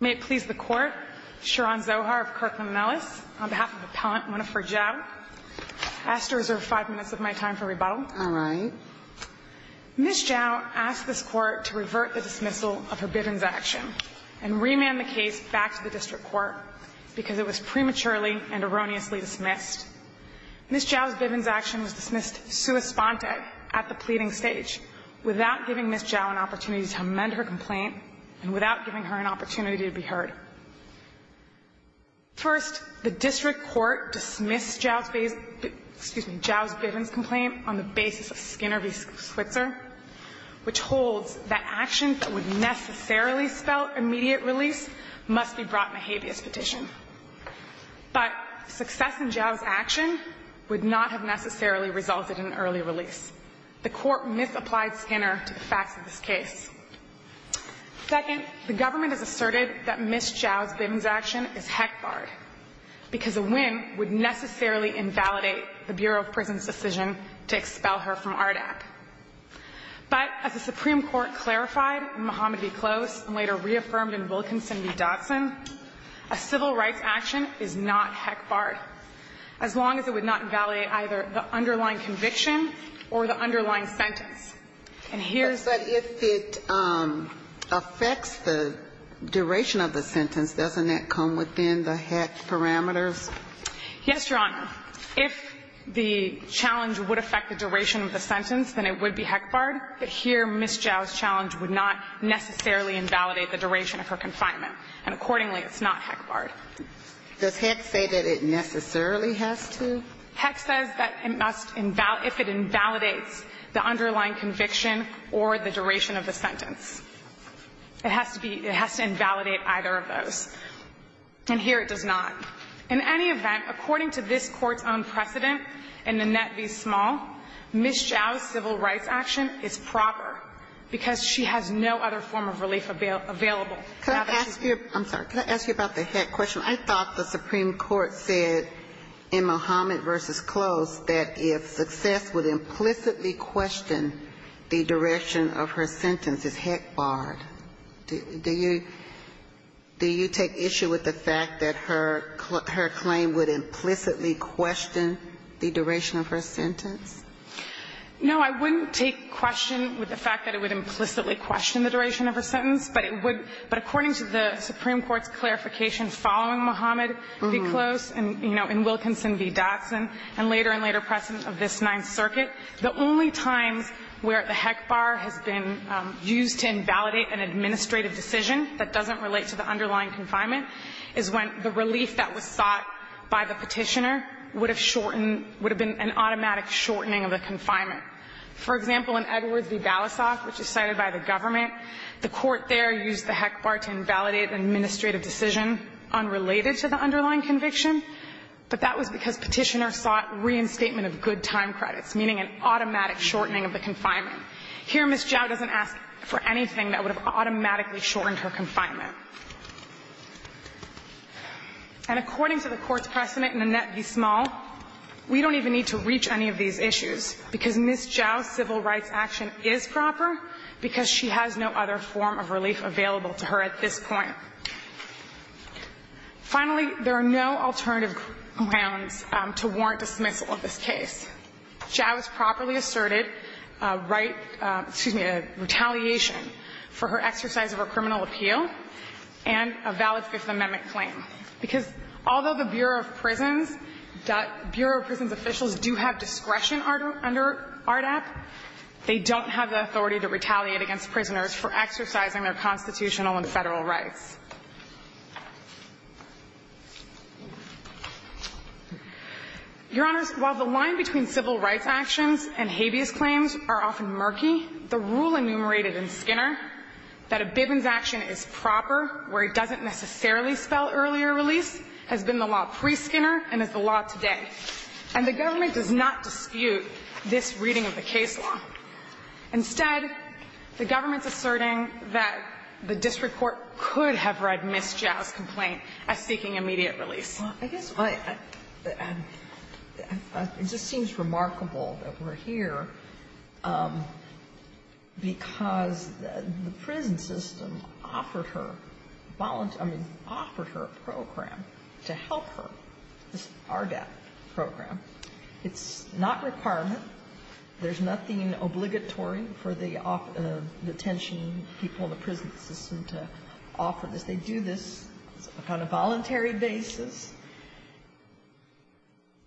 May it please the Court, Sharon Zohar of Kirkland & Ellis, on behalf of Appellant Winifred Jiau, I ask to reserve five minutes of my time for rebuttal. All right. Ms. Jiau asked this Court to revert the dismissal of her Bivens action and remand the case back to the District Court because it was prematurely and erroneously dismissed. Ms. Jiau's Bivens action was dismissed sua sponte at the pleading stage without giving Ms. Jiau an opportunity to amend her complaint and without giving her an opportunity to be heard. First, the District Court dismissed Jiau's Bivens complaint on the basis of Skinner v. Switzer, which holds that action that would necessarily spell immediate release must be brought in a habeas petition. But success in Jiau's action would not have necessarily resulted in early release. The Court misapplied Skinner to the facts of this case. Second, the government has asserted that Ms. Jiau's Bivens action is heck-barred because a win would necessarily invalidate the Bureau of Prisons' decision to expel her from RDAC. But as the Supreme Court clarified in Muhammad v. Close and later reaffirmed in Wilkinson v. Dodson, a civil rights action is not heck-barred, as long as it would not invalidate either the underlying conviction or the underlying sentence. And here's the question. But if it affects the duration of the sentence, doesn't that come within the heck parameters? Yes, Your Honor. If the challenge would affect the duration of the sentence, then it would be heck-barred. But here, Ms. Jiau's challenge would not necessarily invalidate the duration of her confinement. And accordingly, it's not heck-barred. Does Heck say that it necessarily has to? Heck says that it must invalidate the underlying conviction or the duration of the sentence. It has to be – it has to invalidate either of those. And here it does not. In any event, according to this Court's own precedent in the Net v. Small, Ms. Jiau's civil rights action is proper because she has no other form of relief available. Could I ask you – I'm sorry. Could I ask you about the heck question? I thought the Supreme Court said in Muhammad v. Close that if success would implicitly question the direction of her sentence, it's heck-barred. Do you – do you take issue with the fact that her claim would implicitly question the duration of her sentence? No, I wouldn't take question with the fact that it would implicitly question the duration of her sentence. But it would – but according to the Supreme Court's clarification following Muhammad v. Close and, you know, in Wilkinson v. Dotson and later and later precedent of this Ninth Circuit, the only times where the heck-bar has been used to invalidate an administrative decision that doesn't relate to the underlying confinement is when the relief that was sought by the Petitioner would have shortened – would have been an automatic shortening of the confinement. For example, in Edwards v. Balasoff, which is cited by the government, the Court there used the heck-bar to invalidate an administrative decision unrelated to the underlying conviction, but that was because Petitioner sought reinstatement of good time credits, meaning an automatic shortening of the confinement. Here, Ms. Zhao doesn't ask for anything that would have automatically shortened her confinement. And according to the Court's precedent in the Net v. Small, we don't even need to reach any of these issues, because Ms. Zhao's civil rights action is proper because she has no other form of relief available to her at this point. Finally, there are no alternative grounds to warrant dismissal of this case. Zhao's properly asserted right – excuse me – retaliation for her exercise of her criminal appeal and a valid Fifth Amendment claim, because although the Bureau of Prisons – Bureau of Prisons officials do have discretion under ARDAP, they don't have the authority to retaliate against prisoners for exercising their constitutional and Federal rights. Your Honors, while the line between civil rights actions and habeas claims are often murky, the rule enumerated in Skinner that a Bivens action is proper where it doesn't necessarily spell earlier release has been the law pre-Skinner and is the law today. And the government does not dispute this reading of the case law. Instead, the government's asserting that the district court could have read Ms. Zhao's complaint as seeking immediate release. Well, I guess my – it just seems remarkable that we're here because the prison system offered her – I mean, offered her a program to help her, this ARDAP program. It's not requirement. There's nothing obligatory for the detention people in the prison system to offer this. They do this on a voluntary basis.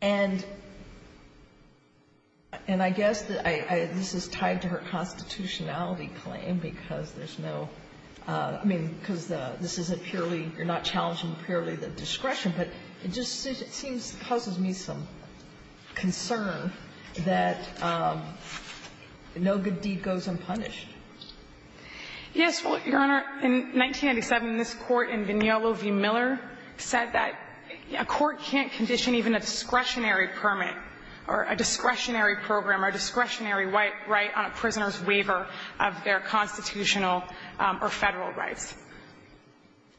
And I guess that I – this is tied to her constitutionality claim because there's no – I mean, because this isn't purely – you're not challenging purely the discretion, but it just seems – causes me some concern that no good deed goes unpunished. Yes. Well, Your Honor, in 1997, this Court in Vignolo v. Miller said that a court can't condition even a discretionary permit or a discretionary program or discretionary right on a prisoner's waiver of their constitutional or Federal rights.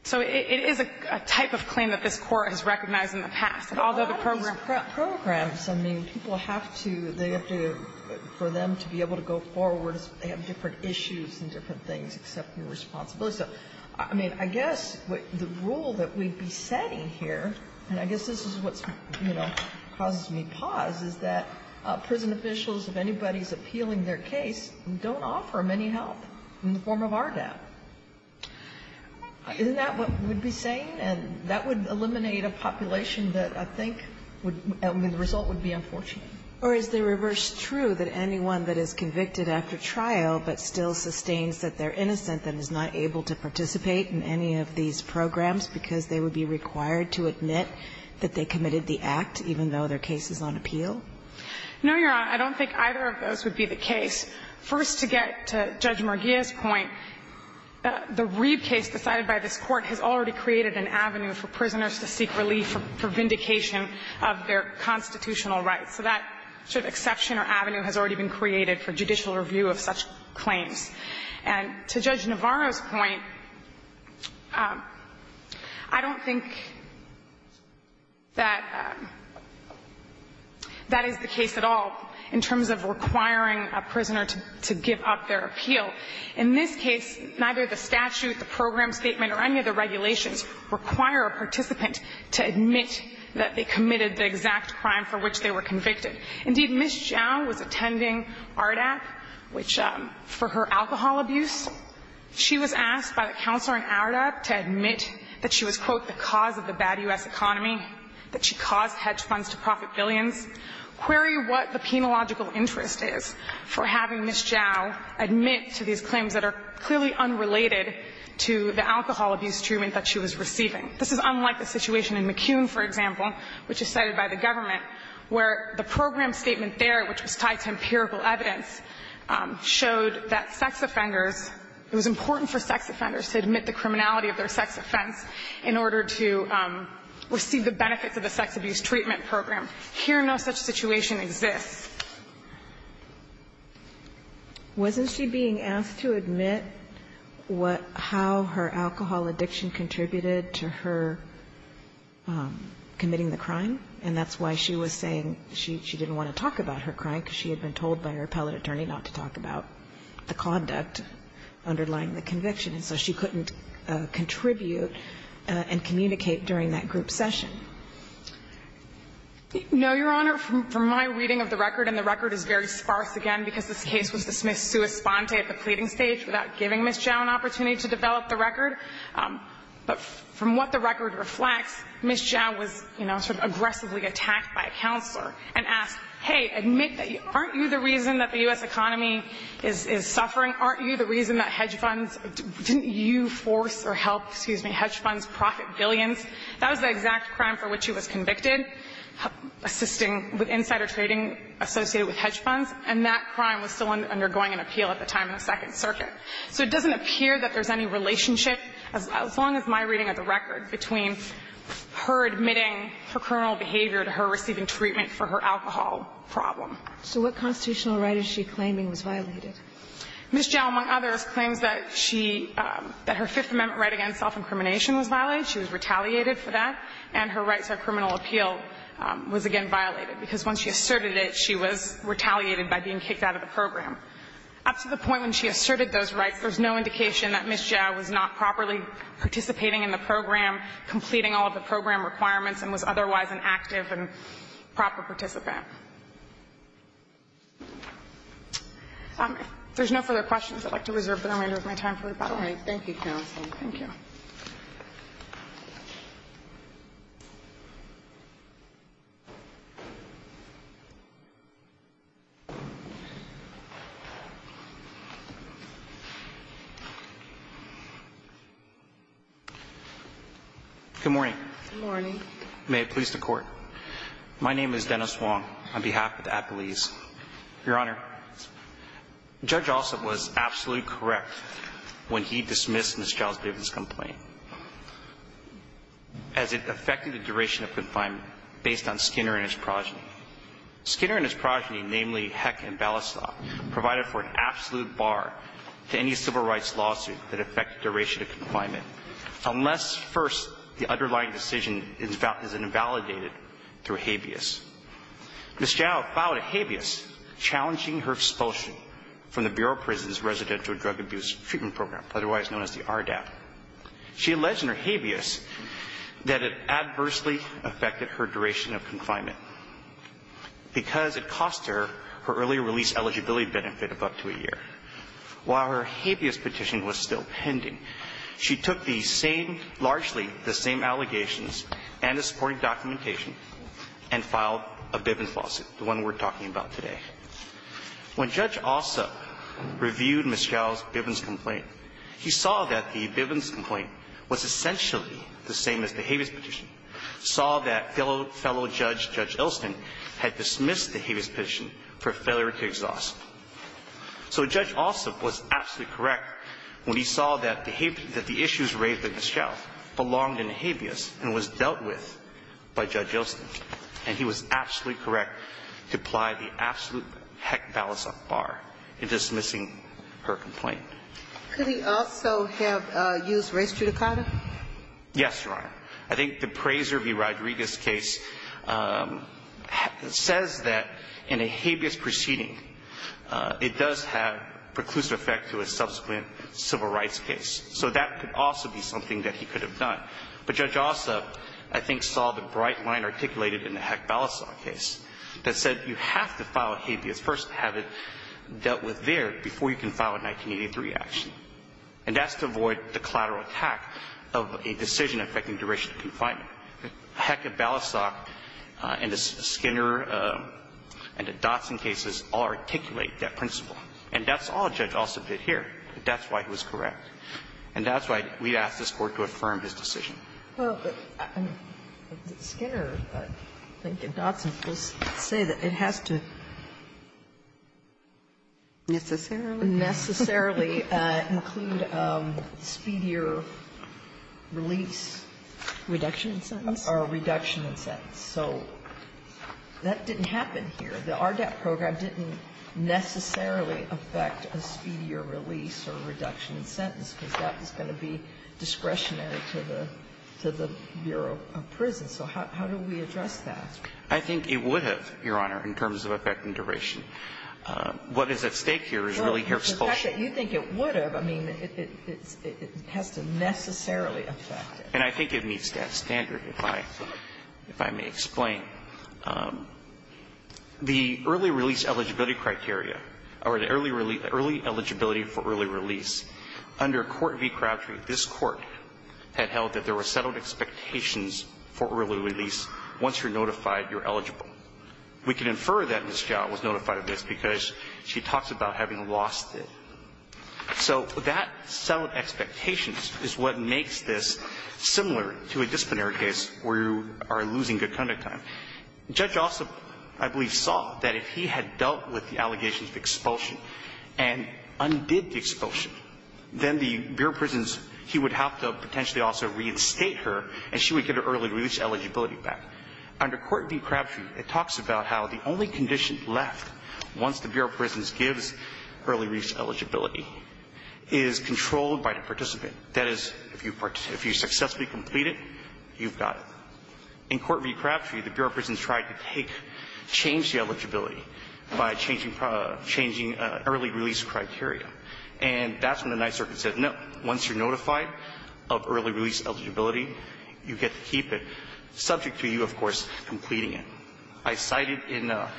So it is a type of claim that this Court has recognized in the past. And although the program – But what about those programs? I mean, people have to – they have to – for them to be able to go forward, they have different issues and different things, except for responsibility. So, I mean, I guess the rule that we'd be setting here, and I guess this is what, you know, causes me pause, is that prison officials, if anybody's appealing their case, don't offer them any help in the form of RDAP. Isn't that what we'd be saying? And that would eliminate a population that I think would – I mean, the result would be unfortunate. Or is the reverse true, that anyone that is convicted after trial but still sustains that they're innocent and is not able to participate in any of these programs because they would be required to admit that they committed the act even though their case is on appeal? No, Your Honor. I don't think either of those would be the case. First, to get to Judge Murguia's point, the Reeve case decided by this Court has already created an avenue for prisoners to seek relief for vindication of their constitutional rights. So that sort of exception or avenue has already been created for judicial review of such claims. And to Judge Navarro's point, I don't think that that is the case at all in terms of requiring a prisoner to give up their appeal. In this case, neither the statute, the program statement, or any of the regulations require a participant to admit that they committed the exact crime for which they were convicted. Indeed, Ms. Zhao was attending ARDAP, which for her alcohol abuse, she was asked by the counselor in ARDAP to admit that she was, quote, the cause of the bad U.S. economy, that she caused hedge funds to profit billions, query what the penological interest is for having Ms. Zhao admit to these claims that are clearly unrelated to the alcohol abuse treatment that she was receiving. This is unlike the situation in McCune, for example, which is cited by the government, where the program statement there, which was tied to empirical evidence, showed that sex offenders, it was important for sex offenders to admit the criminality of their sex offense in order to receive the benefits of the sex abuse treatment program. Here, no such situation exists. Wasn't she being asked to admit what how her alcohol addiction contributed to her committing the crime, and that's why she was saying she didn't want to talk about her crime, because she had been told by her appellate attorney not to talk about the conduct underlying the conviction, and so she couldn't contribute and communicate during that group session. No, Your Honor, from my reading of the record, and the record is very sparse again, because this case was dismissed sua sponte at the pleading stage without giving Ms. Zhao an opportunity to develop the record, but from what the record reflects, Ms. Zhao was, you know, sort of aggressively attacked by a counselor and asked, hey, admit that, aren't you the reason that the U.S. economy is suffering? Aren't you the reason that hedge funds, didn't you force or help, excuse me, hedge funds profit billions? That was the exact crime for which she was convicted, assisting with insider trading associated with hedge funds, and that crime was still undergoing an appeal at the time in the Second Circuit. So it doesn't appear that there's any relationship, as long as my reading of the record, between her admitting her criminal behavior to her receiving treatment for her alcohol problem. So what constitutional right is she claiming was violated? Ms. Zhao, among others, claims that she – that her Fifth Amendment right against self-incrimination was violated. She was retaliated for that. And her right to a criminal appeal was again violated, because when she asserted it, she was retaliated by being kicked out of the program. Up to the point when she asserted those rights, there's no indication that Ms. Zhao was not properly participating in the program, completing all of the program requirements, and was otherwise an active and proper participant. There's no further questions. I'd like to reserve the remainder of my time for rebuttal. All right. Thank you, counsel. Thank you. Good morning. May it please the Court. My name is Dennis Wong, on behalf of the appellees. Your Honor, Judge Ossoff was absolutely correct when he dismissed Ms. Zhao's grievance complaint, as it affected the duration of confinement based on Skinner and his progeny. Skinner and his progeny, namely Heck and Balistock, provided for an absolute bar to any civil rights lawsuit that affected duration of confinement, unless, first, the underlying decision is invalidated through habeas. Ms. Zhao filed a habeas, challenging her expulsion from the Bureau of Prisons Residential Drug Abuse Treatment Program, otherwise known as the RDAP. She alleged in her habeas that it adversely affected her duration of confinement because it cost her her early release eligibility benefit of up to a year. While her habeas petition was still pending, she took the same, largely the same allegations and the supporting documentation and filed a Bivens lawsuit, the one we're talking about today. When Judge Ossoff reviewed Ms. Zhao's Bivens complaint, he saw that the Bivens complaint was essentially the same as the habeas petition, saw that fellow judge, Judge Elston, had dismissed the habeas petition for failure to exhaust. So Judge Ossoff was absolutely correct when he saw that the issues raised by Ms. Zhao belonged in the habeas and was dealt with by Judge Elston. And he was absolutely correct to apply the absolute Heck-Balistock bar in dismissing her complaint. Could he also have used race judicata? Yes, Your Honor. I think the Prazer v. Rodriguez case says that in a habeas proceeding, the judge does have preclusive effect to a subsequent civil rights case. So that could also be something that he could have done. But Judge Ossoff, I think, saw the bright line articulated in the Heck-Balistock case that said you have to file a habeas first and have it dealt with there before you can file a 1983 action. And that's to avoid the collateral attack of a decision affecting duration of confinement. And that's why Heck-Balistock and the Skinner and the Dotson cases all articulate that principle. And that's all Judge Ossoff did here. That's why he was correct. And that's why we asked this Court to affirm his decision. Well, but Skinner, I think, and Dotson both say that it has to necessarily include a speedier release. Reduction in sentence? Or a reduction in sentence. So that didn't happen here. The RDAP program didn't necessarily affect a speedier release or reduction in sentence, because that was going to be discretionary to the Bureau of Prisons. So how do we address that? I think it would have, Your Honor, in terms of effect and duration. What is at stake here is really here's full shape. Well, the fact that you think it would have, I mean, it has to necessarily affect it. And I think it meets that standard, if I may explain. The early release eligibility criteria, or the early eligibility for early release, under Court v. Crabtree, this Court had held that there were settled expectations for early release. Once you're notified, you're eligible. We can infer that Ms. Jowell was notified of this because she talks about having lost it. So that settled expectations is what makes this similar to a disciplinary case where you are losing good conduct time. Judge Ossoff, I believe, saw that if he had dealt with the allegations of expulsion and undid the expulsion, then the Bureau of Prisons, he would have to potentially also reinstate her, and she would get her early release eligibility back. Under Court v. Crabtree, it talks about how the only condition left once the Bureau of Prisons gives early release eligibility is controlled by the participant. That is, if you successfully complete it, you've got it. In Court v. Crabtree, the Bureau of Prisons tried to take, change the eligibility by changing early release criteria. And that's when the Ninth Circuit said, no, once you're notified of early release eligibility, you get to keep it, subject to you, of course, completing it. I cited in a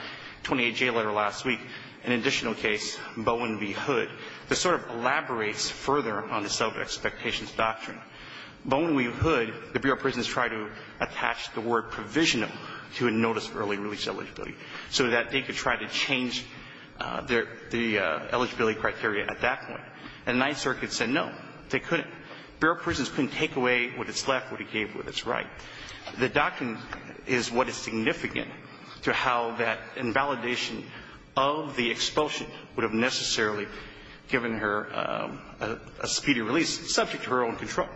28J letter last week an additional case, Bowen v. Hood, that sort of elaborates further on the settled expectations doctrine. Bowen v. Hood, the Bureau of Prisons tried to attach the word provisional to a notice of early release eligibility so that they could try to change their eligibility criteria at that point. And the Ninth Circuit said, no, they couldn't. The Bureau of Prisons couldn't take away what it's left, what it gave with its right. The doctrine is what is significant to how that invalidation of the expulsion would have necessarily given her a speedy release subject to her own control.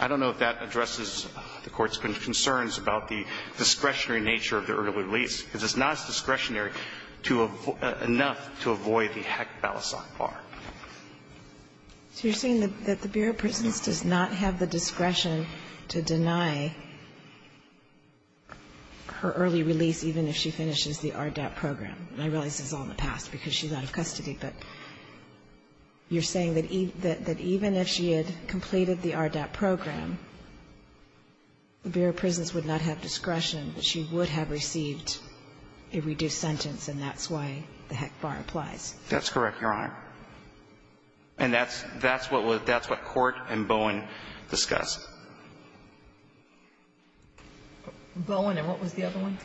I don't know if that addresses the Court's concerns about the discretionary nature of the early release, because it's not discretionary enough to avoid the heck balisong bar. So you're saying that the Bureau of Prisons does not have the discretion to deny her early release even if she finishes the RDAP program. And I realize this is all in the past because she's out of custody, but you're saying that even if she had completed the RDAP program, the Bureau of Prisons would not have discretion. She would have received a reduced sentence, and that's why the heck bar applies. That's correct, Your Honor. And that's what Court and Bowen discussed. Bowen, and what was the other one?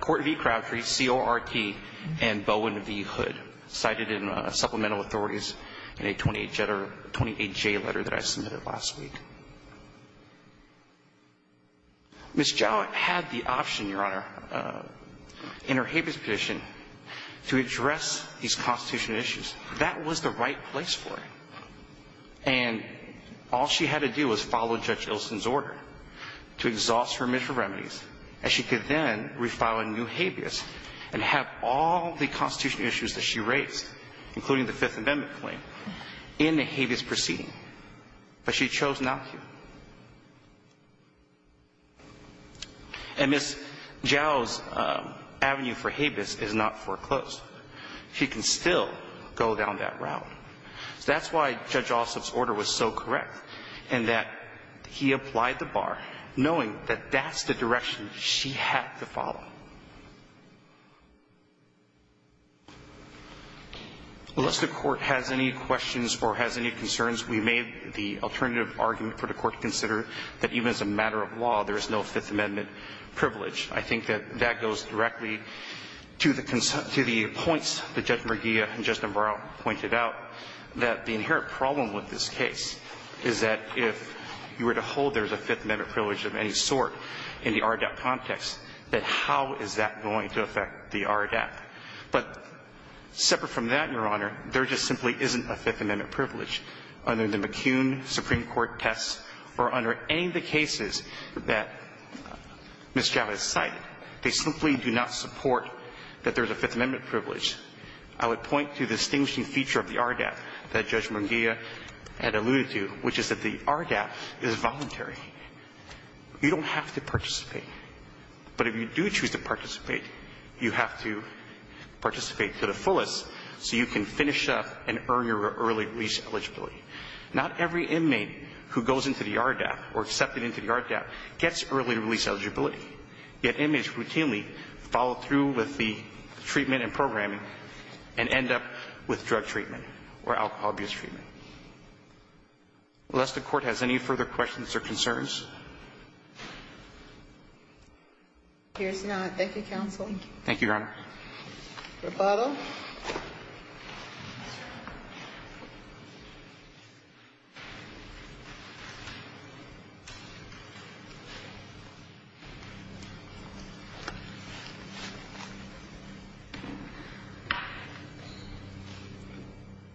Court v. Crabtree, C.O.R.T., and Bowen v. Hood, cited in supplemental authorities in a 28J letter that I submitted last week. Ms. Jowett had the option, Your Honor, in her habeas petition, to address these constitutional issues. That was the right place for her. And all she had to do was follow Judge Ilson's order to exhaust her measure of remedies, and she could then refile a new habeas and have all the constitutional issues that she raised, including the Fifth Amendment claim, in the habeas proceeding. But she chose not to. And Ms. Jowett's avenue for habeas is not foreclosed. She can still go down that route. That's why Judge Ossoff's order was so correct, in that he applied the bar knowing that that's the direction she had to follow. Unless the Court has any questions or has any concerns, we made the alternative argument for the Court to consider that even as a matter of law, there is no Fifth Amendment privilege. I think that that goes directly to the points that Judge Murgia and Judge Navarro pointed out, that the inherent problem with this case is that if you were to hold there's a Fifth Amendment privilege of any sort in the RADAP context, that how is that going to affect the RADAP? But separate from that, Your Honor, there just simply isn't a Fifth Amendment privilege under the McCune Supreme Court test or under any of the cases that Ms. Jowett cited. They simply do not support that there's a Fifth Amendment privilege. I would point to the distinguishing feature of the RADAP that Judge Murgia had alluded to, which is that the RADAP is voluntary. You don't have to participate. But if you do choose to participate, you have to participate to the fullest so you can finish up and earn your early release eligibility. Not every inmate who goes into the RADAP or accepted into the RADAP gets early release eligibility. Yet inmates routinely follow through with the treatment and programming and end up with drug treatment or alcohol abuse treatment. Unless the Court has any further questions or concerns. Thank you, Counsel. Thank you, Your Honor. Roberts.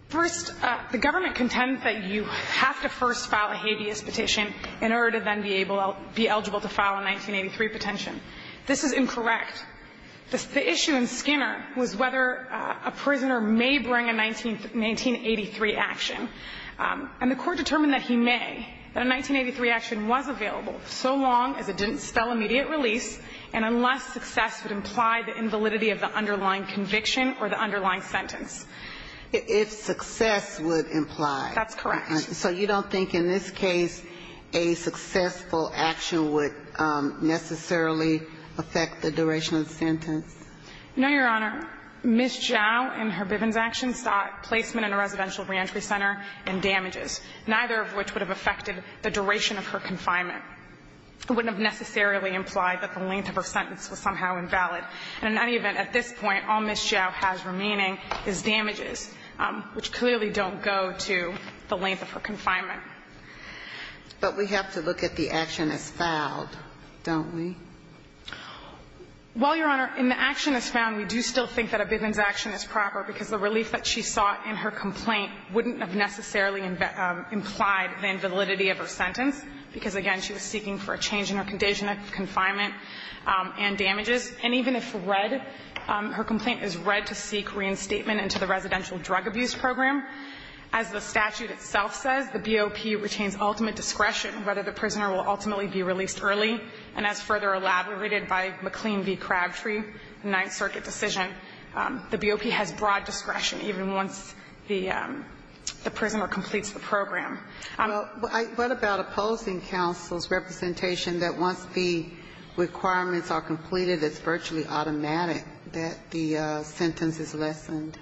First, the government contends that you have to first file a habeas petition in order to then be able to be eligible to file a 1983 petition. This is incorrect. The issue in Skinner was whether a prisoner may bring a 1983 action. And the Court determined that he may, that a 1983 action was available so long as it didn't spell immediate release and unless success would imply the invalidity of the underlying conviction or the underlying sentence. If success would imply. That's correct. So you don't think in this case a successful action would necessarily affect the duration of the sentence? No, Your Honor. Ms. Zhao in her Bivens action sought placement in a residential reentry center and damages, neither of which would have affected the duration of her confinement. It wouldn't have necessarily implied that the length of her sentence was somehow invalid. And in any event, at this point, all Ms. Zhao has remaining is damages, which clearly don't go to the length of her confinement. But we have to look at the action as filed, don't we? Well, Your Honor, in the action as found, we do still think that a Bivens action is proper because the relief that she sought in her complaint wouldn't have necessarily implied the invalidity of her sentence, because, again, she was seeking for a change in her condition of confinement and damages. And even if read, her complaint is read to seek reinstatement into the residential drug abuse program. As the statute itself says, the BOP retains ultimate discretion whether the prisoner will ultimately be released early. And as further elaborated by McLean v. Crabtree, the Ninth Circuit decision, the BOP has broad discretion even once the prisoner completes the program. Well, what about opposing counsel's representation that once the requirements are completed, it's virtually automatic that the sentence is lessened?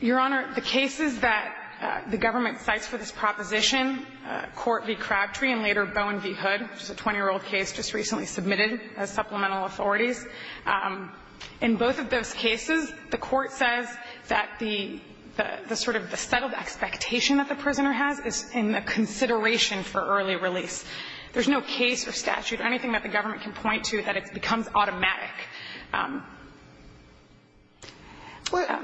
Your Honor, the cases that the government cites for this proposition, Court v. Crabtree and later Bowen v. Hood, which is a 20-year-old case just recently submitted as supplemental authorities, in both of those cases, the Court says that the sort of settled expectation that the prisoner has is in the consideration for early release. There's no case or statute or anything that the government can point to that it becomes automatic.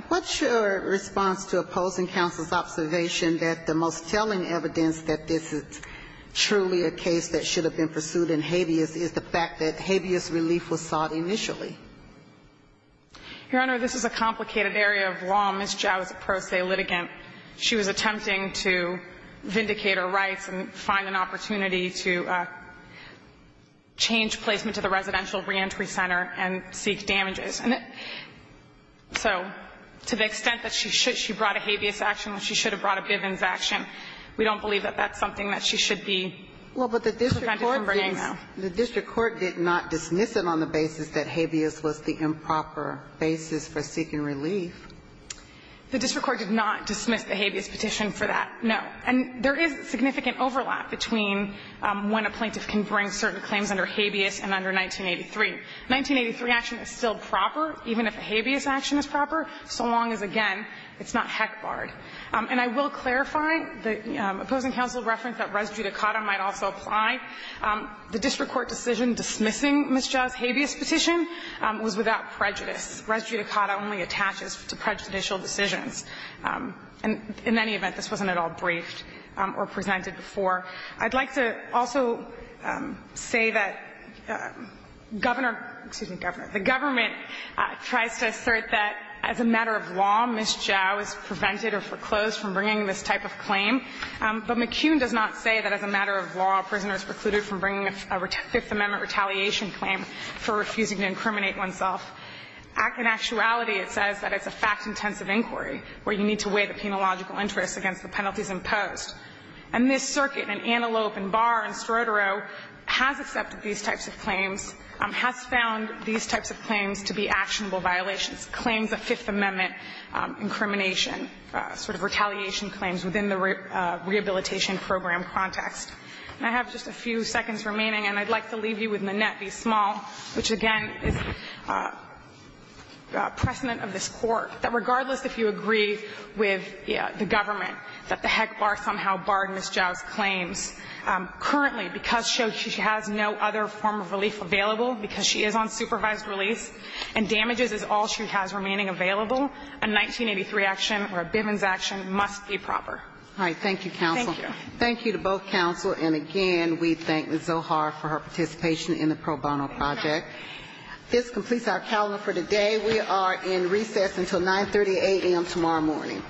What's your response to opposing counsel's observation that the most telling evidence that this is truly a case that should have been pursued in habeas is the fact that habeas relief was sought initially? Your Honor, this is a complicated area of law. Ms. Zhao is a pro se litigant. She was attempting to vindicate her rights and find an opportunity to change placement into the residential reentry center and seek damages. So to the extent that she brought a habeas action when she should have brought a Bivens action, we don't believe that that's something that she should be prevented from bringing, though. Well, but the district court did not dismiss it on the basis that habeas was the improper basis for seeking relief. The district court did not dismiss the habeas petition for that, no. And there is significant overlap between when a plaintiff can bring certain claims under habeas and under 1983. 1983 action is still proper, even if the habeas action is proper, so long as, again, it's not heck barred. And I will clarify the opposing counsel reference that res judicata might also apply. The district court decision dismissing Ms. Zhao's habeas petition was without prejudice. Res judicata only attaches to prejudicial decisions. And in any event, this wasn't at all briefed or presented before. I'd like to also say that Governor – excuse me, Governor – the government tries to assert that as a matter of law, Ms. Zhao is prevented or foreclosed from bringing this type of claim. But McCune does not say that as a matter of law, a prisoner is precluded from bringing a Fifth Amendment retaliation claim for refusing to incriminate oneself. In actuality, it says that it's a fact-intensive inquiry where you need to weigh the penological interests against the penalties imposed. And this circuit in Antelope and Barr and Strodero has accepted these types of claims, has found these types of claims to be actionable violations, claims of Fifth Amendment incrimination, sort of retaliation claims within the rehabilitation program context. And I have just a few seconds remaining, and I'd like to leave you with Minnette v. Small, which, again, is precedent of this Court, that regardless if you agree with the government that the heck Barr somehow barred Ms. Zhao's claims, currently because she has no other form of relief available because she is on supervised release and damages is all she has remaining available, a 1983 action or a Bivens action must be proper. Thank you, counsel. Thank you. Thank you to both counsel. And, again, we thank Ms. Zohar for her participation in the pro bono project. This completes our calendar for today. We are in recess until 9.30 a.m. tomorrow morning.??